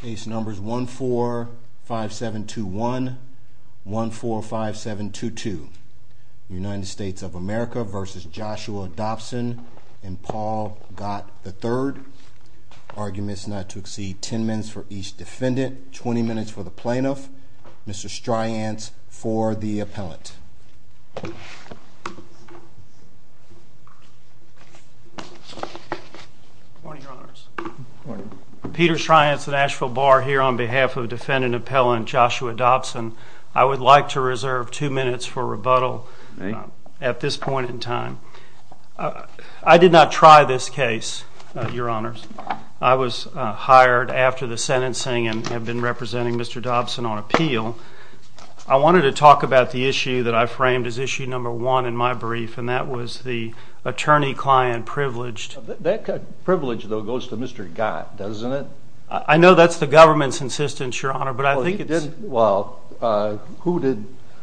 Case numbers 145721, 145722. United States of America v. Joshua Dobson and Paul Gott III. Arguments not to exceed 10 minutes for each defendant, 20 minutes for the plaintiff, Mr. Stryance for the appellant. Good morning, Your Honors. Peter Stryance at Asheville Bar here on behalf of Defendant Appellant Joshua Dobson. I would like to reserve two minutes for rebuttal at this point in time. I did not try this case, Your Honors. I was hired after the sentencing and have been representing Mr. Dobson on appeal. I wanted to talk about the issue that I framed as issue number one in my brief, and that was the attorney-client privileged... That privilege, though, goes to Mr. Gott, doesn't it? I know that's the government's insistence, Your Honor, but I think it's... Well,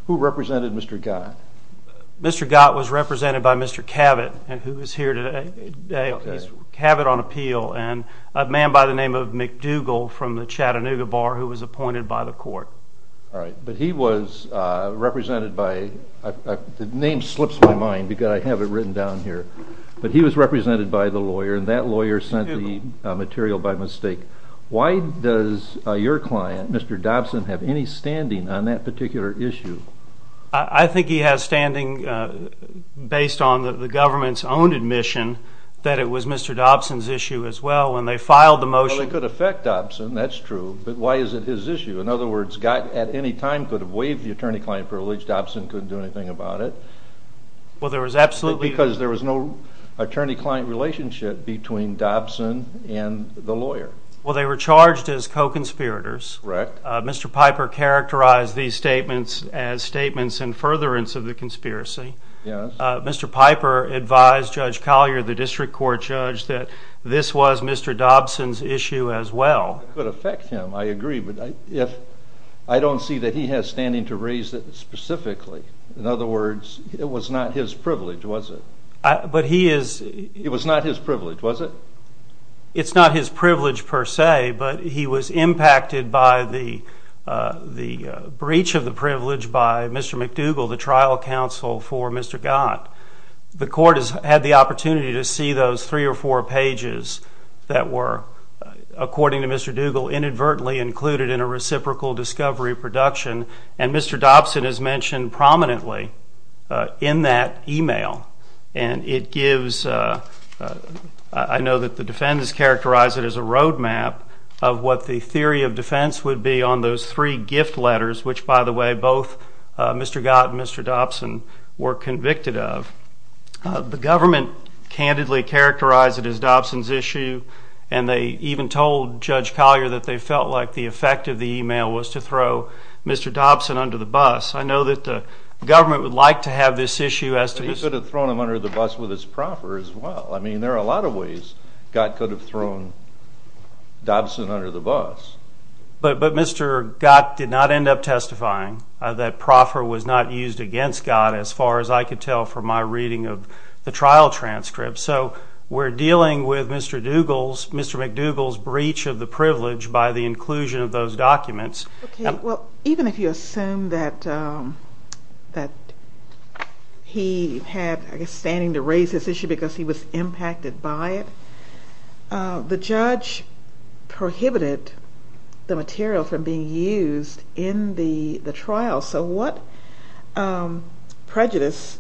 who represented Mr. Gott? Mr. Gott was represented by Mr. Cabot, who is here today. Cabot on appeal and a man by the name of McDougal from the Represented by... The name slips my mind because I have it written down here, but he was represented by the lawyer and that lawyer sent the material by mistake. Why does your client, Mr. Dobson, have any standing on that particular issue? I think he has standing based on the government's own admission that it was Mr. Dobson's issue as well when they filed the motion. Well, it could affect Dobson, that's true, but why is it his issue? In other words, Gott at any time could have waived the attorney-client privilege, Dobson couldn't do anything about it. Well, there was absolutely... Because there was no attorney-client relationship between Dobson and the lawyer. Well, they were charged as co-conspirators. Correct. Mr. Piper characterized these statements as statements in furtherance of the conspiracy. Yes. Mr. Piper advised Judge Collier, the district court judge, that this was Mr. Dobson's issue as well. It could affect him, I agree, but if I don't see that he has standing to raise it specifically, in other words, it was not his privilege, was it? But he is... It was not his privilege, was it? It's not his privilege per se, but he was impacted by the breach of the privilege by Mr. McDougall, the trial counsel for Mr. Gott. The court has had the opportunity to see those three or four pages that were, according to Mr. Dougall, inadvertently included in a reciprocal discovery production, and Mr. Dobson is mentioned prominently in that email, and it gives... I know that the defendants characterized it as a roadmap of what the theory of defense would be on those three gift letters, which, by the way, both Mr. Gott and Mr. Dobson were convicted of. The government candidly characterized it as Dobson's issue, and they even told Judge Collier that they felt like the effect of the email was to throw Mr. Dobson under the bus. I know that the government would like to have this issue as to... He could have thrown him under the bus with his proffer as well. I mean, there are a lot of ways Gott could have thrown Dobson under the bus. But Mr. Gott did not end up testifying. That proffer was not used against Gott, as far as I could tell from my reading of the trial transcript. So we're dealing with Mr. McDougall's privilege by the inclusion of those documents. Okay, well, even if you assume that he had, I guess, standing to raise this issue because he was impacted by it, the judge prohibited the material from being used in the the trial. So what prejudice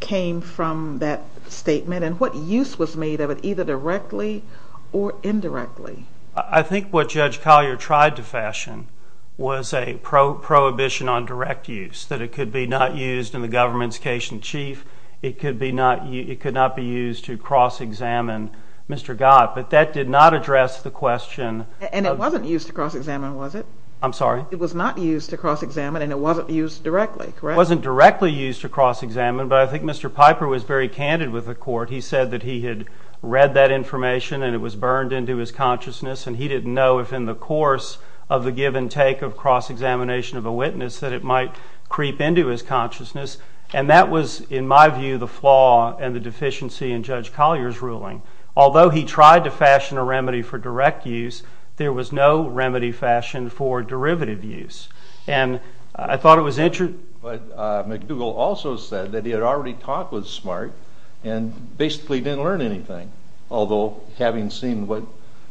came from that statement, and what use was made of it, either directly or indirectly? I think what Judge Collier tried to fashion was a prohibition on direct use, that it could be not used in the government's case in chief, it could not be used to cross-examine Mr. Gott. But that did not address the question... And it wasn't used to cross-examine, was it? I'm sorry? It was not used to cross-examine, and it wasn't used directly, correct? It wasn't directly used to cross-examine, but I think Mr. Piper was very candid with the court. He said that he had read that information and it was burned into his consciousness, and he didn't know if in the course of the give-and-take of cross-examination of a witness that it might creep into his consciousness. And that was, in my view, the flaw and the deficiency in Judge Collier's ruling. Although he tried to fashion a remedy for direct use, there was no remedy fashioned for derivative use. And I thought it was interesting... But McDougall also said that he had already talked with Smart and basically didn't learn anything. Although, having seen what,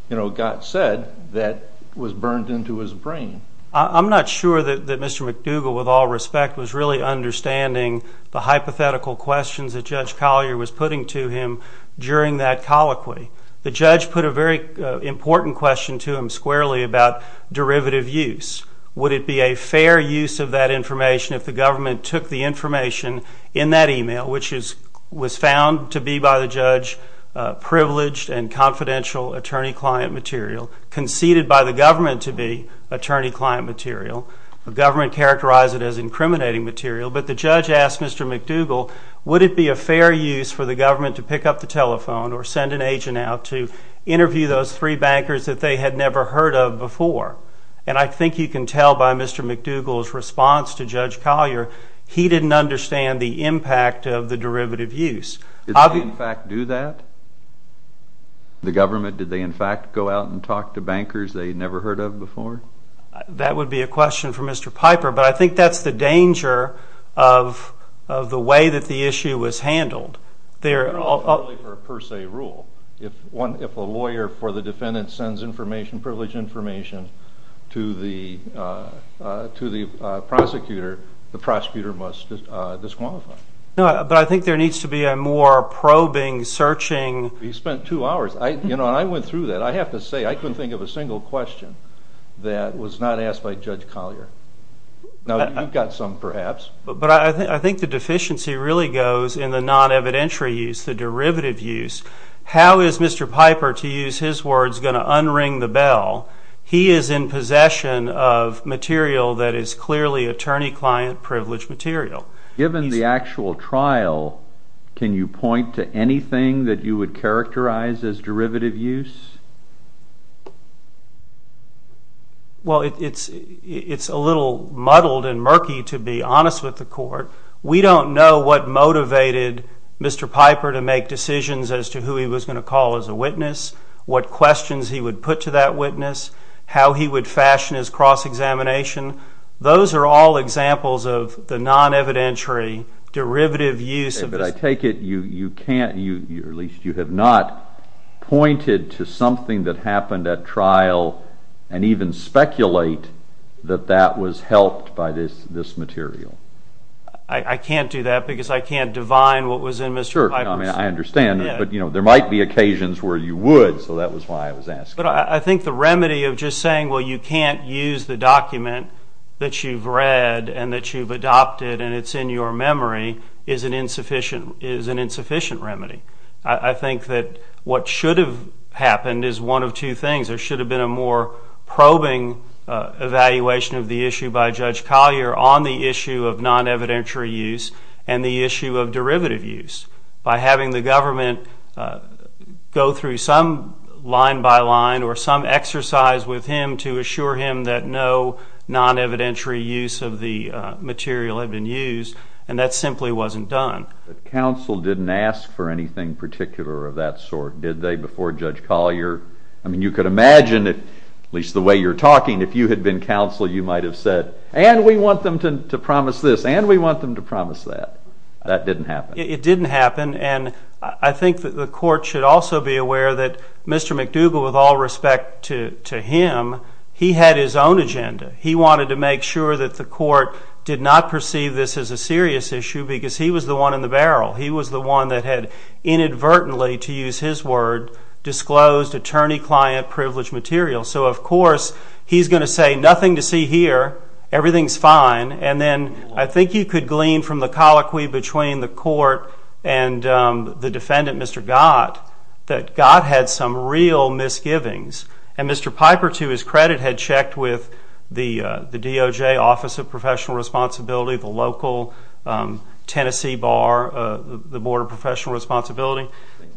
you know, Gott said, that was burned into his brain. I'm not sure that Mr. McDougall, with all respect, was really understanding the hypothetical questions that Judge Collier was putting to him during that colloquy. The judge put a very important question to him squarely about derivative use. Would it be a fair use of that information if the government took the information in that email, which was found to be, by the judge, privileged and confidential attorney-client material, conceded by the government to be attorney-client material, the government characterized it as incriminating material, but the judge asked Mr. McDougall, would it be a fair use for the government to pick up the telephone or send an agent out to interview those three bankers that they had never heard of before? And I think you can tell by Mr. McDougall's response to Judge Collier, he didn't understand the impact of the derivative use. Did they, in fact, do that? The government, did they, in fact, go out and talk to bankers they never heard of before? That would be a question for Mr. Piper, but I think that's the danger of the way that the issue was handled. They're all per se rule. If one, if a lawyer for the defendant sends information, privileged information, to the prosecutor, the prosecutor must disqualify. No, but I think there needs to be a more probing, searching. He spent two hours. I, you know, I went through that. I have to say, I couldn't think of a single question that was not asked by Judge Collier. Now, you've got some, perhaps. But I think the deficiency really goes in the non-evidentiary use, the derivative use. How is Mr. Piper, to use his words, going to unring the bell? He is in possession of material that is clearly attorney-client privileged material. Given the actual trial, can you point to anything that you would characterize as derivative use? Well, it's, it's a little muddled and murky, to be honest with the court. We don't know what motivated Mr. Piper to make decisions as to who he was going to call as a witness, what questions he would put to that witness, how he would fashion his cross-examination. Those are all examples of the non-evidentiary derivative use. But I take it you, you can't, you, at least you have not pointed to something that happened at trial and even speculate that that was helped by this material. I can't do that because I can't divine what was in Mr. Piper's... Sure, I understand, but you know, there might be occasions where you would, so that was why I was asking. But I think the remedy of just saying, well, you can't use the document that you've read and that you've adopted and it's in your memory, is an insufficient, is an insufficient remedy. I think that what should have happened is one of two things. There should have been a more probing evaluation of the issue by Judge Collier on the issue of non-evidentiary use and the issue of derivative use by having the government go through some line by line or some exercise with him to assure him that no non-evidentiary use of the material had been used and that simply wasn't done. The counsel didn't ask for anything particular of that sort, did they, before Judge Collier? I mean, you could imagine, at least the way you're talking, if you had been counsel, you might have said, and we want them to promise this and we want them to promise that. That didn't happen. It didn't happen and I think that the court should also be aware that Mr. McDougall, with all respect to him, he had his own agenda. He wanted to make sure that the court did not perceive this as a serious issue because he was the one in the barrel. He was the one that had inadvertently, to my privilege, material. So, of course, he's going to say, nothing to see here, everything's fine, and then I think you could glean from the colloquy between the court and the defendant, Mr. Gott, that Gott had some real misgivings and Mr. Piper, to his credit, had checked with the DOJ, Office of Professional Responsibility, the local Tennessee bar, the Board of Professional Responsibility.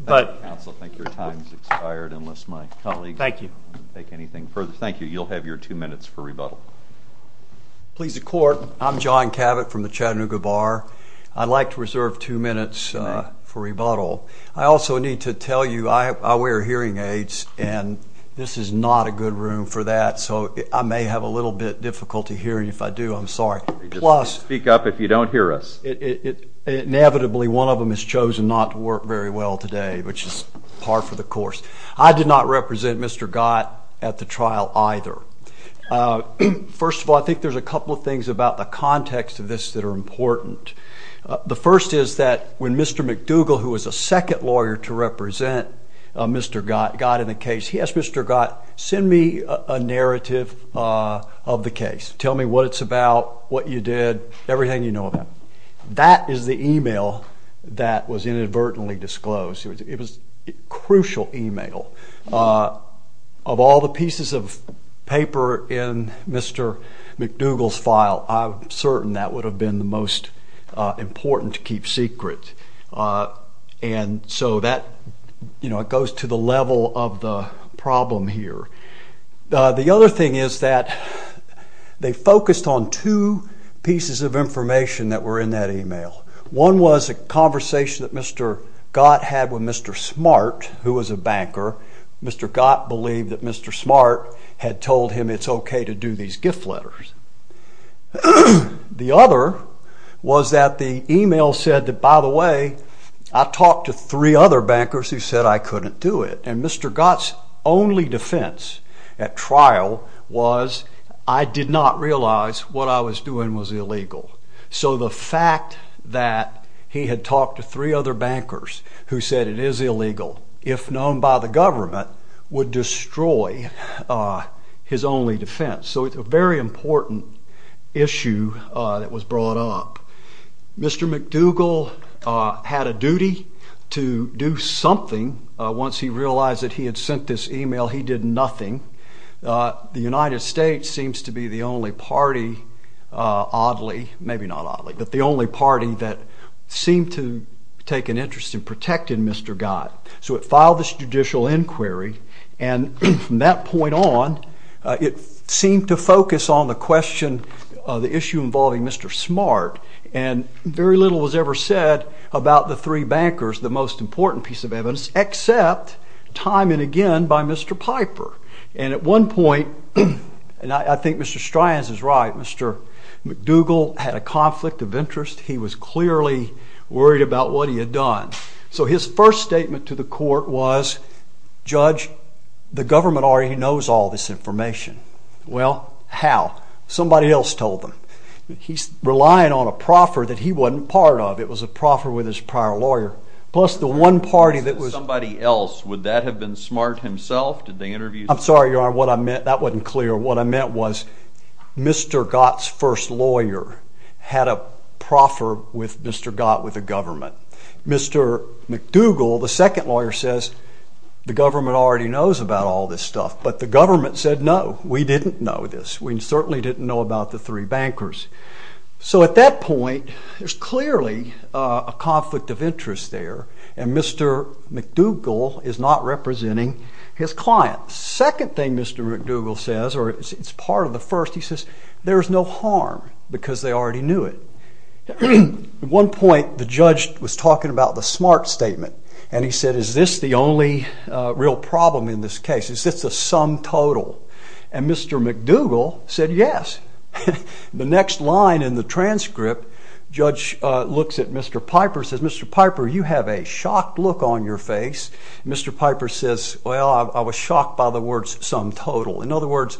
Thank you, counsel. I think your time has expired, unless my colleague can take anything further. Thank you. You'll have your two minutes for rebuttal. Please, the court, I'm John Cavett from the Chattanooga Bar. I'd like to reserve two minutes for rebuttal. I also need to tell you I wear hearing aids and this is not a good room for that, so I may have a little bit difficulty hearing. If I do, I'm sorry. Speak up if you don't hear us. Inevitably, one of them has chosen not to work very well today, which is par for the course. I did not represent Mr. Gott at the trial either. First of all, I think there's a couple of things about the context of this that are important. The first is that when Mr. McDougall, who was a second lawyer to represent Mr. Gott in the case, he asked Mr. Gott, send me a narrative of the case. Tell me what it's about, what you did, everything you know about it. That is the email that was inadvertently disclosed. It was a crucial email. Of all the pieces of paper in Mr. McDougall's file, I'm certain that would have been the most important to keep secret, and so that, you know, it goes to the level of the problem here. The other thing is that they focused on two pieces of information that were in that email. One was a conversation that Mr. Gott had with Mr. Smart, who was a banker. Mr. Gott believed that Mr. Smart had told him it's okay to do these gift letters. The other was that the email said that, by the way, I talked to three other bankers who said I couldn't do it, and Mr. Gott's only defense at trial was, I did not realize what I was doing was illegal. So the fact that he had talked to three other bankers who said it is illegal, if known by the government, would destroy his only defense. So it's a very important issue that was brought up. Mr. McDougall had a duty to do something once he realized that he had sent this email. He did nothing. The United States seems to be the only party, oddly, maybe not oddly, but the only party that seemed to take an interest in protecting Mr. Gott. So it filed this judicial inquiry, and from that point on, it seemed to focus on the question, the issue involving Mr. Smart, and very little was ever said about the three bankers, the most important piece of evidence, except time and again by Mr. Piper, and at one point, and I think Mr. Stryans is right, Mr. McDougall had a conflict of interest. He was clearly worried about what he had done. So his first statement to the court was, Judge, the government already knows all this information. Well, how? Somebody else told them. He's relying on a proffer that he wasn't part of. It was a proffer with his prior lawyer, plus the one party that was... Somebody else, would that have been Smart himself? Did they interview... I'm sorry, Your Honor, what I meant, that wasn't clear. What I meant was Mr. Gott's first lawyer had a proffer with Mr. Gott with the government. Mr. McDougall, the second lawyer, says the government already knows about all this stuff, but the government said no, we didn't know this. We certainly didn't know about the three bankers. So at that point, there's clearly a conflict of interest there, and Mr. McDougall is not representing his client. Second thing Mr. McDougall says, or it's part of the first, he says, there's no harm because they already knew it. At one point, the judge was talking about the Smart statement, and he said, is this the only real problem in this case? Is this the sum total? And Mr. McDougall said, yes. The next line in the transcript, Judge looks at Mr. Piper, says, Mr. Piper, you have a shocked look on your face. Mr. Piper says, well, I was shocked by the words sum total. In other words,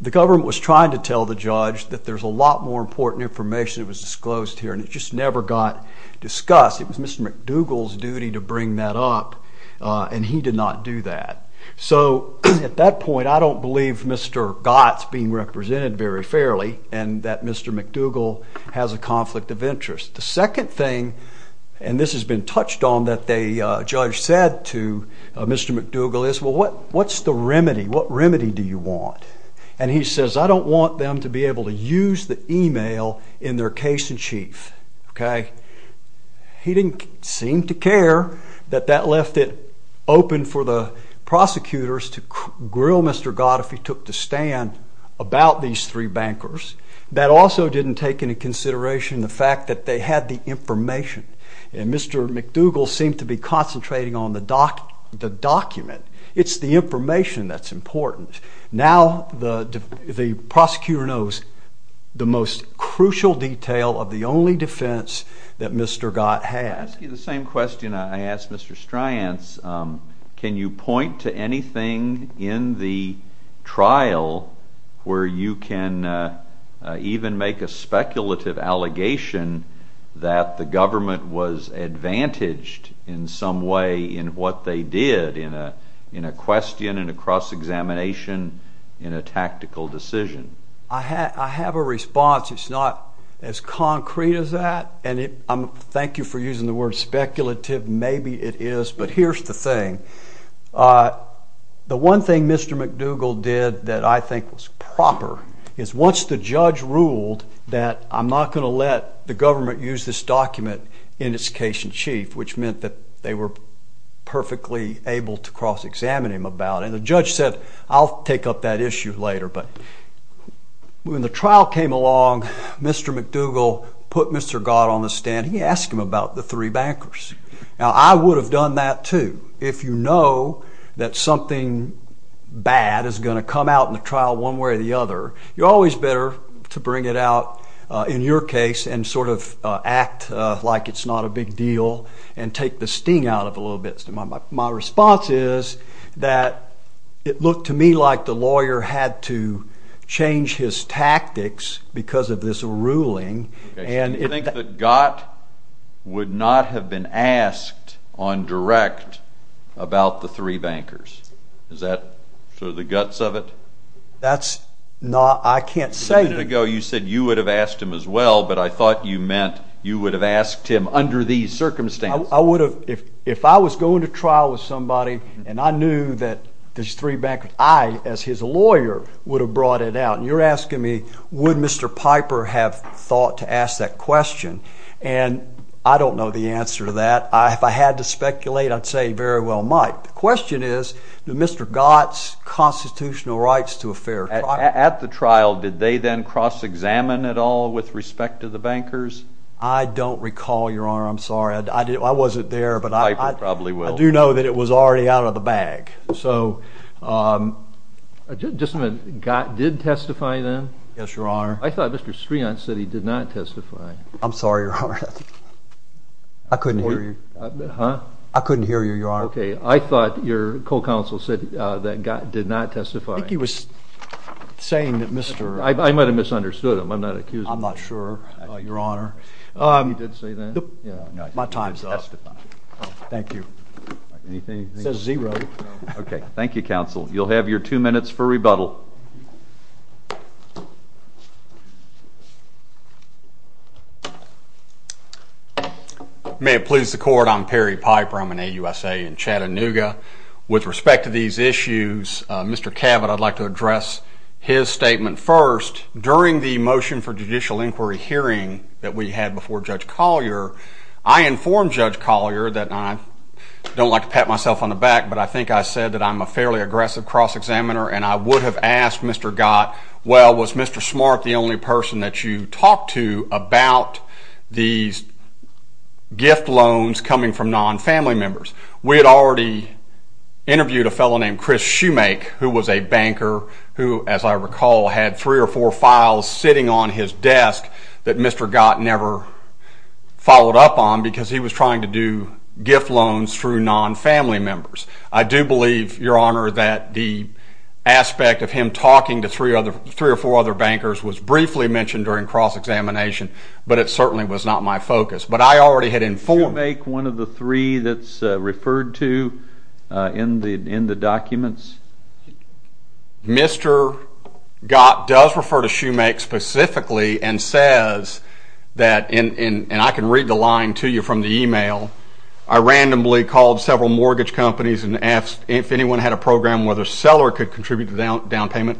the government was trying to tell the judge that there's a lot more important information that was disclosed here, and it just never got discussed. It was Mr. McDougall's duty to bring that up, and he did not do that. So at that point, I don't believe Mr. Gott's being represented very fairly, and that Mr. McDougall has a vested interest. The second thing, and this has been touched on, that the judge said to Mr. McDougall is, well, what's the remedy? What remedy do you want? And he says, I don't want them to be able to use the email in their case-in-chief, okay? He didn't seem to care that that left it open for the prosecutors to grill Mr. Gott if he took the stand about these three bankers. That also didn't take any consideration in the fact that they had the information, and Mr. McDougall seemed to be concentrating on the document. It's the information that's important. Now the prosecutor knows the most crucial detail of the only defense that Mr. Gott has. I'll ask you the same question I asked Mr. Stryance. Can you point to that the government was advantaged in some way in what they did in a question, in a cross-examination, in a tactical decision? I have a response. It's not as concrete as that, and thank you for using the word speculative. Maybe it is, but here's the thing. The one thing Mr. McDougall did that I think was not going to let the government use this document in its case-in-chief, which meant that they were perfectly able to cross-examine him about it. The judge said, I'll take up that issue later, but when the trial came along, Mr. McDougall put Mr. Gott on the stand. He asked him about the three bankers. Now I would have done that too. If you know that something bad is going to come out in the trial one way or the case and sort of act like it's not a big deal and take the sting out of a little bit. So my response is that it looked to me like the lawyer had to change his tactics because of this ruling. And you think that Gott would not have been asked on direct about the three bankers. Is that sort of the guts of it? That's not, I can't say. A minute ago you said you would have asked him as well, but I thought you meant you would have asked him under these circumstances. I would have. If I was going to trial with somebody and I knew that these three bankers, I as his lawyer would have brought it out. You're asking me, would Mr. Piper have thought to ask that question? And I don't know the answer to that. If I had to speculate, I'd say very well might. The question is, did Mr. Gott's constitutional rights to a fair trial? At the trial, did they then cross-examine at all with respect to the bankers? I don't recall, your honor. I'm sorry. I wasn't there, but I probably will. I do know that it was already out of the bag. So just a minute, Gott did testify then? Yes, your honor. I thought Mr. Streontz said he did not testify. I'm sorry, your honor. I couldn't hear you. I couldn't hear you, your honor. Okay, I thought your co-counsel said that Gott did not testify. I think he was saying that Mr. I might have misunderstood him. I'm not sure, your honor. He did say that. My time's up. Thank you. Anything? It says zero. Okay, thank you, counsel. You'll have your two minutes for rebuttal. May it please the court, I'm Perry Piper. I'm an AUSA in Chattanooga. With respect to these issues, Mr. Cavett, I'd like to address his statement first. During the motion for judicial inquiry hearing that we had before Judge Collier, I informed Judge Collier that I don't like to pat myself on the back, but I think I said that I'm a fairly aggressive cross-examiner, and I would have asked Mr. Gott, well, was Mr. Smart the only person that you talked to about these gift loans coming from non-family members? We had already interviewed a fellow named Chris Shoemake, who was a banker who, as I recall, had three or four files sitting on his desk that Mr. Gott never followed up on, because he was trying to do gift loans through non-family members. I do believe, your honor, that the aspect of him talking to three or four other bankers was briefly mentioned during cross-examination, but it certainly was not my focus. But I already had informed— Shoemake, one of the three that's referred to in the documents? Mr. Gott does refer to Shoemake specifically and says that—and I can read the line to you from the email—I randomly called several mortgage companies and asked if anyone had a program whether Seller could contribute to the down payment.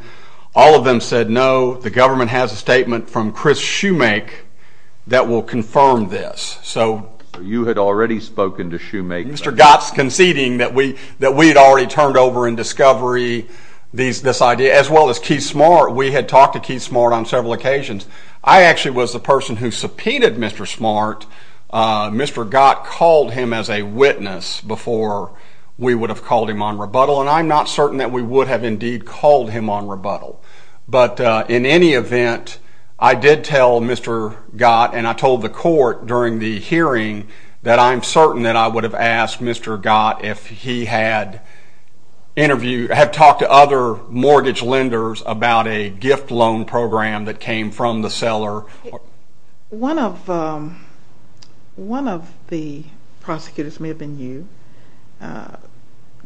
All of them said no. The government has a statement from Chris Shoemake that will confirm this. So you had already spoken to Shoemake? Mr. Gott's conceding that we had already turned over in discovery this idea, as well as Keith Smart. We had talked to Keith Smart on several occasions. I actually was the person who subpoenaed Mr. Smart. Mr. Gott called him as a witness before we would have called him on rebuttal, and I'm not certain that we would have indeed called him on rebuttal. But in any event, I did tell Mr. Gott and I told the court during the hearing that I'm certain that I would have Mr. Gott if he had talked to other mortgage lenders about a gift loan program that came from the Seller. One of the prosecutors, it may have been you,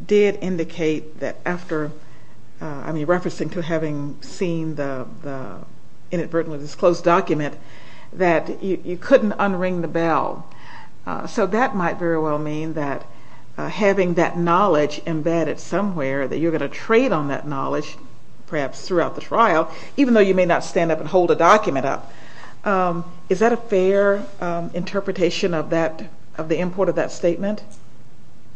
did indicate that after—I mean, referencing to having seen the inadvertently disclosed document—that you couldn't unring the bell. So that might very well mean that having that knowledge embedded somewhere that you're going to trade on that knowledge, perhaps throughout the trial, even though you may not stand up and hold a document up. Is that a fair interpretation of the import of that statement?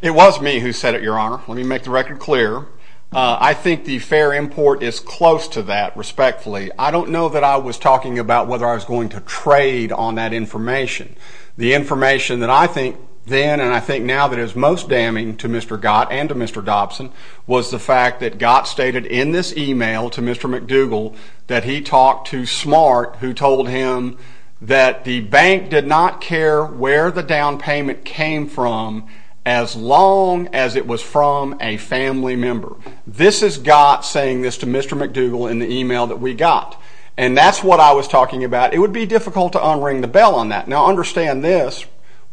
It was me who said it, Your Honor. Let me make the record clear. I think the fair import is close to that, respectfully. I don't know that I was talking about whether I was going to trade on that information. The information that I think then and I think now that is most damning to Mr. Gott and to Mr. Dobson was the fact that Gott stated in this email to Mr. McDougal that he talked to Smart, who told him that the bank did not care where the down payment came from as long as it was from a family member. This is Gott saying this to Mr. McDougal in the email that we got. And that's what I was talking about. It would be difficult to unring the bell on that. Now, understand this.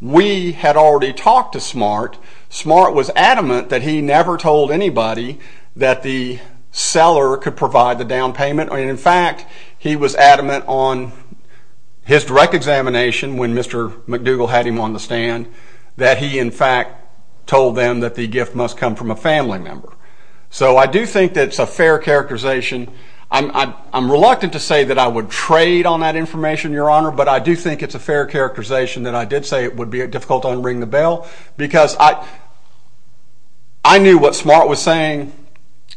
We had already talked to Smart. Smart was adamant that he never told anybody that the seller could provide the down payment. In fact, he was adamant on his direct examination when Mr. McDougal had him on the stand that he, in fact, told them that the gift must come from a family member. So I do think that's a fair characterization. I'm reluctant to say that I would trade on that information, Your Honor, but I do think it's a fair characterization that I did say it would be difficult to unring the bell because I knew what Smart was saying.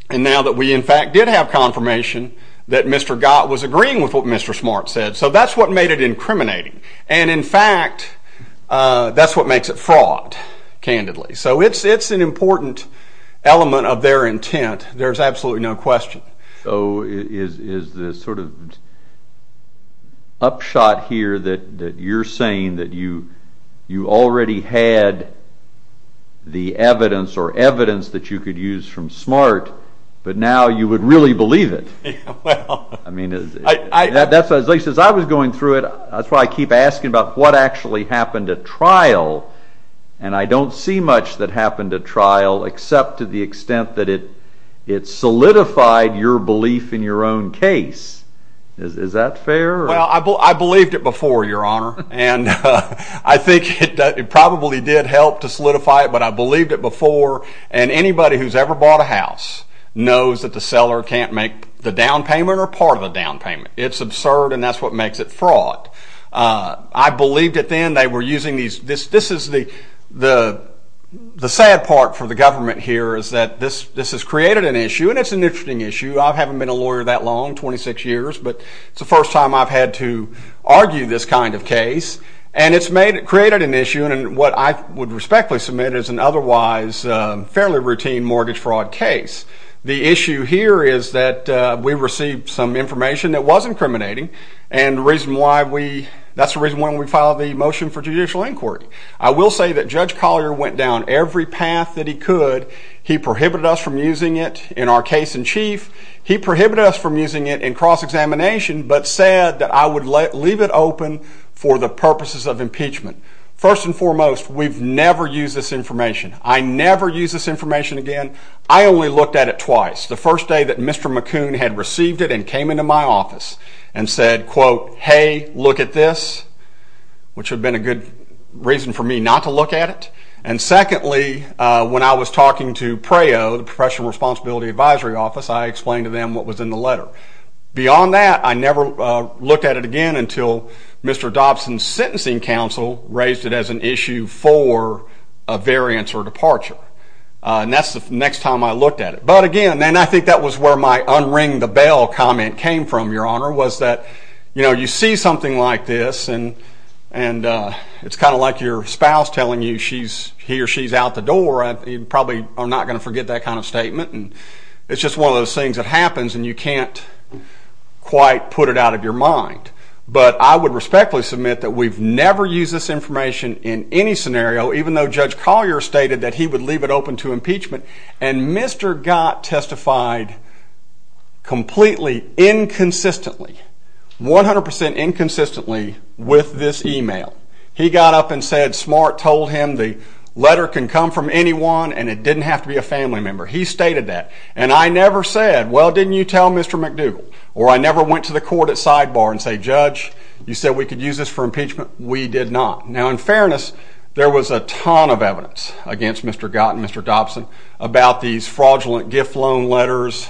And now that we, in fact, did have confirmation that Mr. Gott was agreeing with what Mr. Smart said. So that's what made it incriminating. And in fact, that's what makes it fraud, candidly. So it's an important element of their intent. There's absolutely no question. So is this sort of upshot here that you're saying that you already had the evidence or evidence that you could use from Smart, but now you would really believe it? I mean, as I was going through it, that's why I keep asking about what actually happened at trial. And I don't see much that to the extent that it solidified your belief in your own case. Is that fair? Well, I believed it before, Your Honor. And I think it probably did help to solidify it, but I believed it before. And anybody who's ever bought a house knows that the seller can't make the down payment or part of the down payment. It's absurd, and that's what makes it fraud. I believed it then. This is the sad part for the government here is that this has created an issue, and it's an interesting issue. I haven't been a lawyer that long, 26 years, but it's the first time I've had to argue this kind of case. And it's created an issue, and what I would respectfully submit is an otherwise fairly routine mortgage fraud case. The issue here is that we received some information that was incriminating, and that's the reason why we filed the motion for judicial inquiry. I will say that Judge Collier went down every path that he could. He prohibited us from using it in our case in chief. He prohibited us from using it in cross-examination, but said that I would leave it open for the purposes of impeachment. First and foremost, we've never used this information. I never used this information again. I only looked at it twice. The first day that Mr. McCoon had received it and came into my office and said, quote, hey, look at this, which had been a good reason for me not to look at it. And secondly, when I was talking to PREO, the Professional Responsibility Advisory Office, I explained to them what was in the letter. Beyond that, I never looked at it again until Mr. Dobson's sentencing counsel raised it as an issue for a variance or departure. And that's the next time I looked at it. But again, I think that was where my unring the bell comment came from, Your Honor, was that, you know, you see something like this and it's kind of like your spouse telling you he or she's out the door. You probably are not going to forget that kind of statement. And it's just one of those things that happens and you can't quite put it out of your mind. But I would respectfully submit that we've never used this information in any scenario, even though Judge Collier stated that he would leave it open to impeachment. And Mr. Gott testified completely inconsistently, 100 percent inconsistently, with this email. He got up and said Smart told him the letter can come from anyone and it didn't have to be a family member. He stated that. And I never said, well, didn't you tell Mr. McDougall? Or I never went to the court at sidebar and say, Judge, you said we could use this for impeachment. We did not. Now, in fairness, there was a ton of evidence against Mr. Gott and Mr. Dobson about these fraudulent gift loan letters.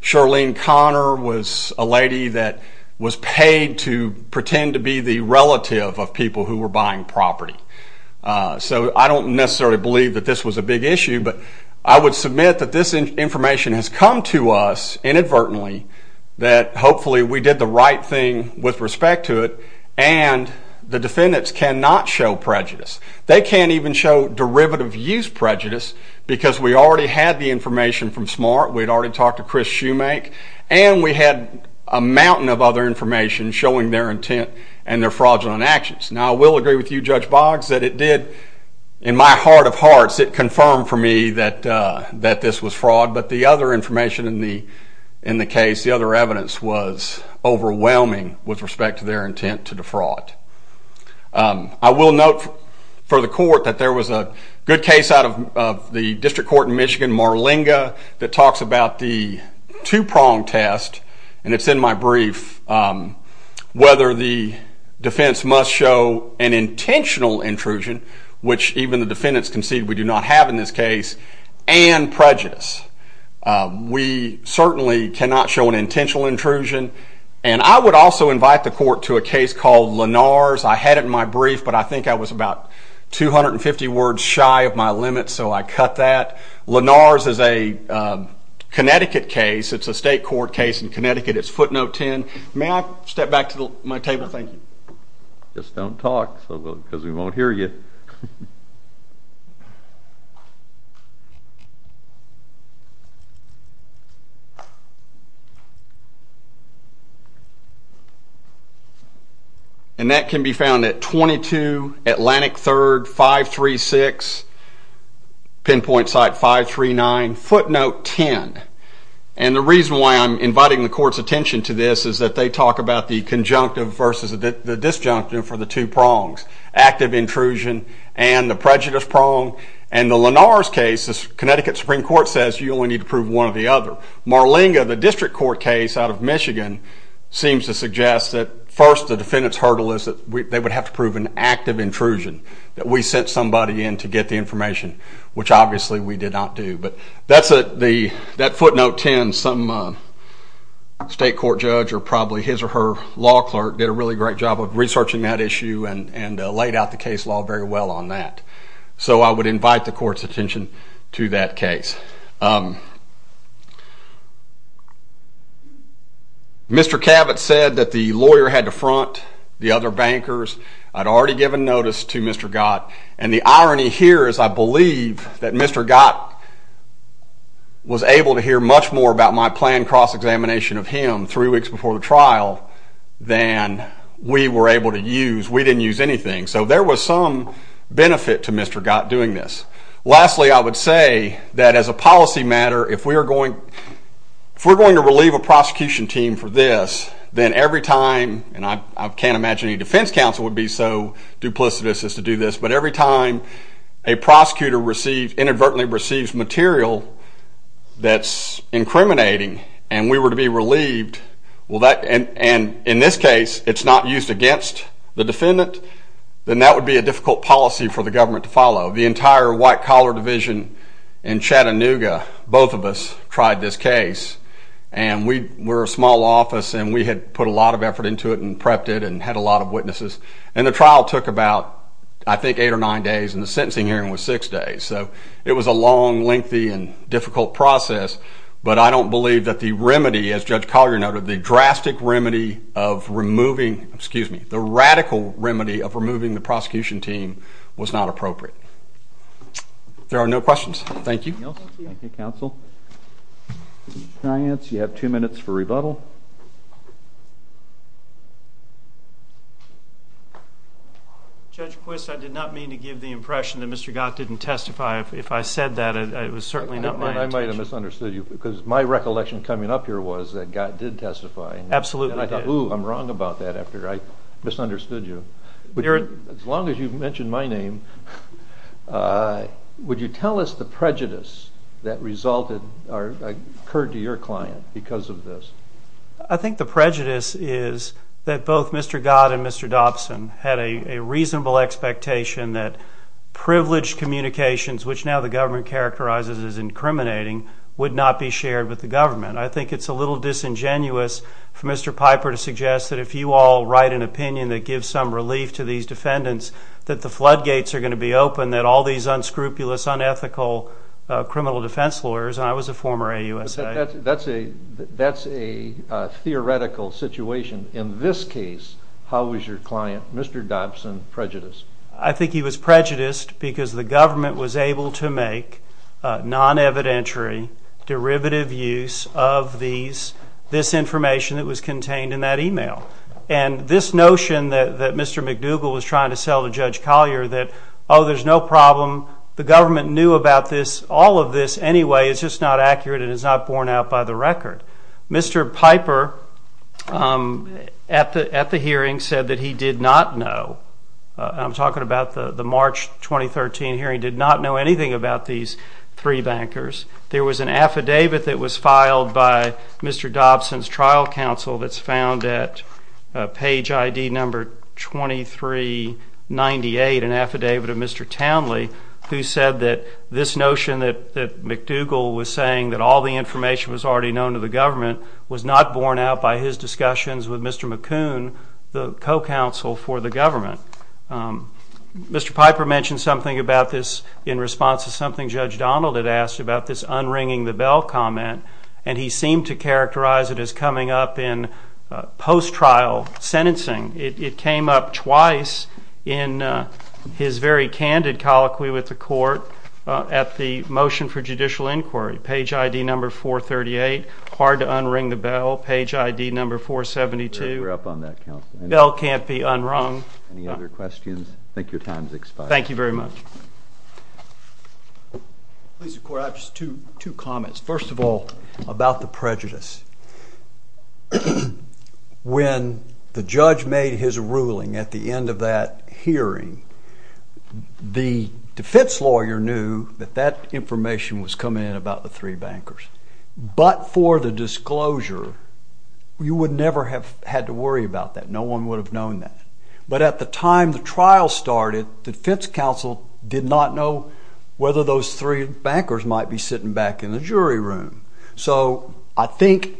Charlene Conner was a lady that was paid to pretend to be the relative of people who were buying property. So I don't necessarily believe that this was a big issue, but I would submit that this information has come to us inadvertently that hopefully we did the right thing with respect to it. And the defendants cannot show prejudice. They can't even show derivative use prejudice because we already had the information from Smart. We'd already talked to Chris Shoemake. And we had a mountain of other information showing their intent and their fraudulent actions. Now, I will agree with you, Judge Boggs, that it did, in my heart of hearts, it confirmed for me that this was fraud. But the other information in the case, the other evidence was overwhelming with respect to their intent to defraud. I will note for the court that there was a good case out of the District Court in Michigan, Marlinga, that talks about the two-prong test, and it's in my brief, whether the defense must show an intentional intrusion, which even the defendants concede we do not have in this case, and prejudice. We certainly cannot show an intentional intrusion. And I would also invite the court to a case called Lenars. I had it in my brief, but I think I was about 250 words shy of my limit, so I cut that. Lenars is a Connecticut case. It's a state court case in Connecticut. It's footnote 10. May I step back to my table? Thank you. Just don't talk, because we won't hear you. And that can be found at 22 Atlantic 3rd 536, pinpoint site 539, footnote 10. And the reason why I'm inviting the court's attention to this is that they talk about the conjunctive versus the disjunctive for the two prongs, active intrusion and the prejudice prong. And the Lenars case, the Connecticut Supreme Court says you only need to prove one or the other. Marlinga, the district court case out of Michigan seems to suggest that first the defendant's hurdle is that they would have to prove an active intrusion, that we sent somebody in to get the information, which obviously we did not do. But that footnote 10, some state court judge or probably his or her law clerk did a really great job of researching that issue and laid out the case law very well on that. So I would invite the court's attention to that case. Mr. Cabot said that the lawyer had to front the other bankers. I'd already given notice to Mr. Gott. And the irony here is I believe that Mr. Gott was able to hear much more about my planned cross-examination of him three weeks before the trial than we were able to use. We some benefit to Mr. Gott doing this. Lastly, I would say that as a policy matter, if we're going to relieve a prosecution team for this, then every time, and I can't imagine any defense counsel would be so duplicitous as to do this, but every time a prosecutor inadvertently receives material that's incriminating and we were to be relieved, and in this case it's not used against the defendant, then that would be a difficult policy for the government to follow. The entire white-collar division in Chattanooga, both of us tried this case. And we were a small office and we had put a lot of effort into it and prepped it and had a lot of witnesses. And the trial took about, I think, eight or nine days, and the sentencing hearing was six days. So it was a long, lengthy, and difficult process. But I don't believe that the remedy, as Judge Collier noted, the drastic remedy of removing, excuse me, the radical remedy of removing the prosecution team was not appropriate. There are no questions. Thank you. Thank you, counsel. Giants, you have two minutes for rebuttal. Judge Quist, I did not mean to give the impression that Mr. Gott didn't testify. If I said that, it was certainly not my intention. I might have misunderstood you, because my recollection coming up here was that Gott did testify. Absolutely. And I thought, ooh, I'm wrong about that after I misunderstood you. As long as you've mentioned my name, would you tell us the prejudice that resulted or occurred to your client because of this? I think the prejudice is that both Mr. Gott and Mr. Dobson had a reasonable expectation that privileged communications, which now the government characterizes as incriminating, would not be shared with the government. I think it's a little disingenuous for Mr. Piper to suggest that if you all write an opinion that gives some relief to these defendants, that the floodgates are going to be open, that all these unscrupulous, unethical criminal defense lawyers, and I was a former AUSA. That's a theoretical situation. In this case, how was your client, Mr. Dobson, prejudiced? I think he was prejudiced because the government was able to make non-evidentiary, derivative use of this information that was contained in that email. And this notion that Mr. McDougall was trying to sell to Judge Collier that, oh, there's no problem, the government knew about all of this anyway, it's just not accurate and it's not borne out by the record. Mr. Piper at the hearing said that he did not know, I'm talking about the March 2013 hearing, did not know anything about these three bankers. There was an affidavit that was filed by Mr. Dobson's trial counsel that's found at page ID number 2398, an affidavit of Mr. Townley, who said that this notion that McDougall was saying that all the information was already known to the government was not borne out by his discussions with Mr. McCoon, the co-counsel for the government. Mr. Piper mentioned something about this in response to something Judge Donald had asked about this unringing the bell comment, and he seemed to characterize it as coming up in post-trial sentencing. It came up twice in his very candid colloquy with the court at the motion for judicial inquiry, page ID number 438, hard to unring the bell, page ID number 472, bell can't be unrung. Any other questions? I think your time's expired. Thank you very much. Please, the court, I have just two comments. First of all, about the prejudice. When the judge made his ruling at the end of that hearing, the defense lawyer knew that that information was coming in about the three bankers. But for the disclosure, you would never have had to worry about that. No one would have known that. But at the time the trial started, the defense counsel did not know whether those three bankers might be sitting back in the jury room. So I think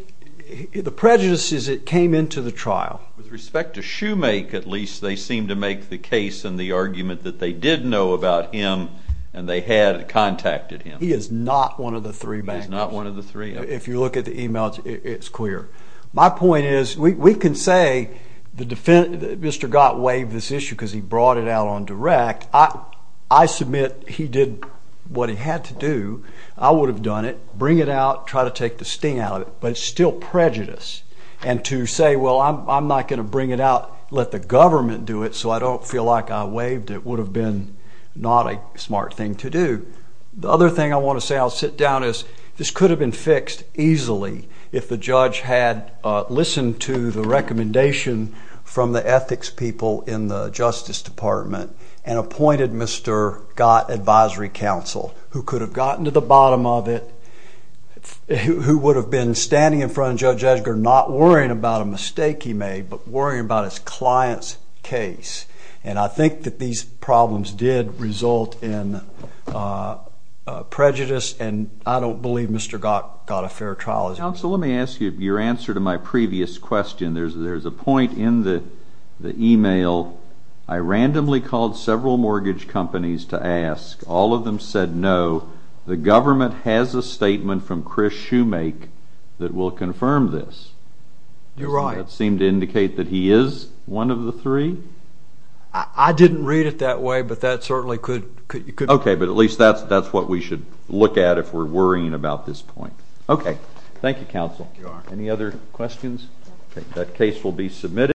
the prejudice is it came into the trial. With respect to Shoemake, at least, they seemed to make the case and the argument that they did know about him and they had contacted him. He is not one of the three bankers. He is not one of the three. If you look at the emails, it's clear. My point is, we can say Mr. Gott waived this issue because he brought it out on direct. I submit he did what he had to do. I would have done it, bring it out, try to take the sting out but it's still prejudice. And to say, well, I'm not going to bring it out, let the government do it so I don't feel like I waived it, would have been not a smart thing to do. The other thing I want to say, I'll sit down, is this could have been fixed easily if the judge had listened to the recommendation from the ethics people in the Justice Department and appointed Mr. Gott advisory counsel who could have gotten to the bottom of it, who would have been standing in front of Judge Edgar not worrying about a mistake he made but worrying about his client's case. And I think that these problems did result in prejudice and I don't believe Mr. Gott got a fair trial. Counsel, let me ask you your answer to my previous question. There's a point in the email, I randomly called several mortgage companies to ask, all of them said no, the government has a statement from Chris Shoemake that will confirm this. You're right. Does that seem to indicate that he is one of the three? I didn't read it that way but that certainly could be. Okay, but at least that's what we should look at if we're worrying about this point. Okay, thank you counsel. Any other questions? Okay, that case will be submitted.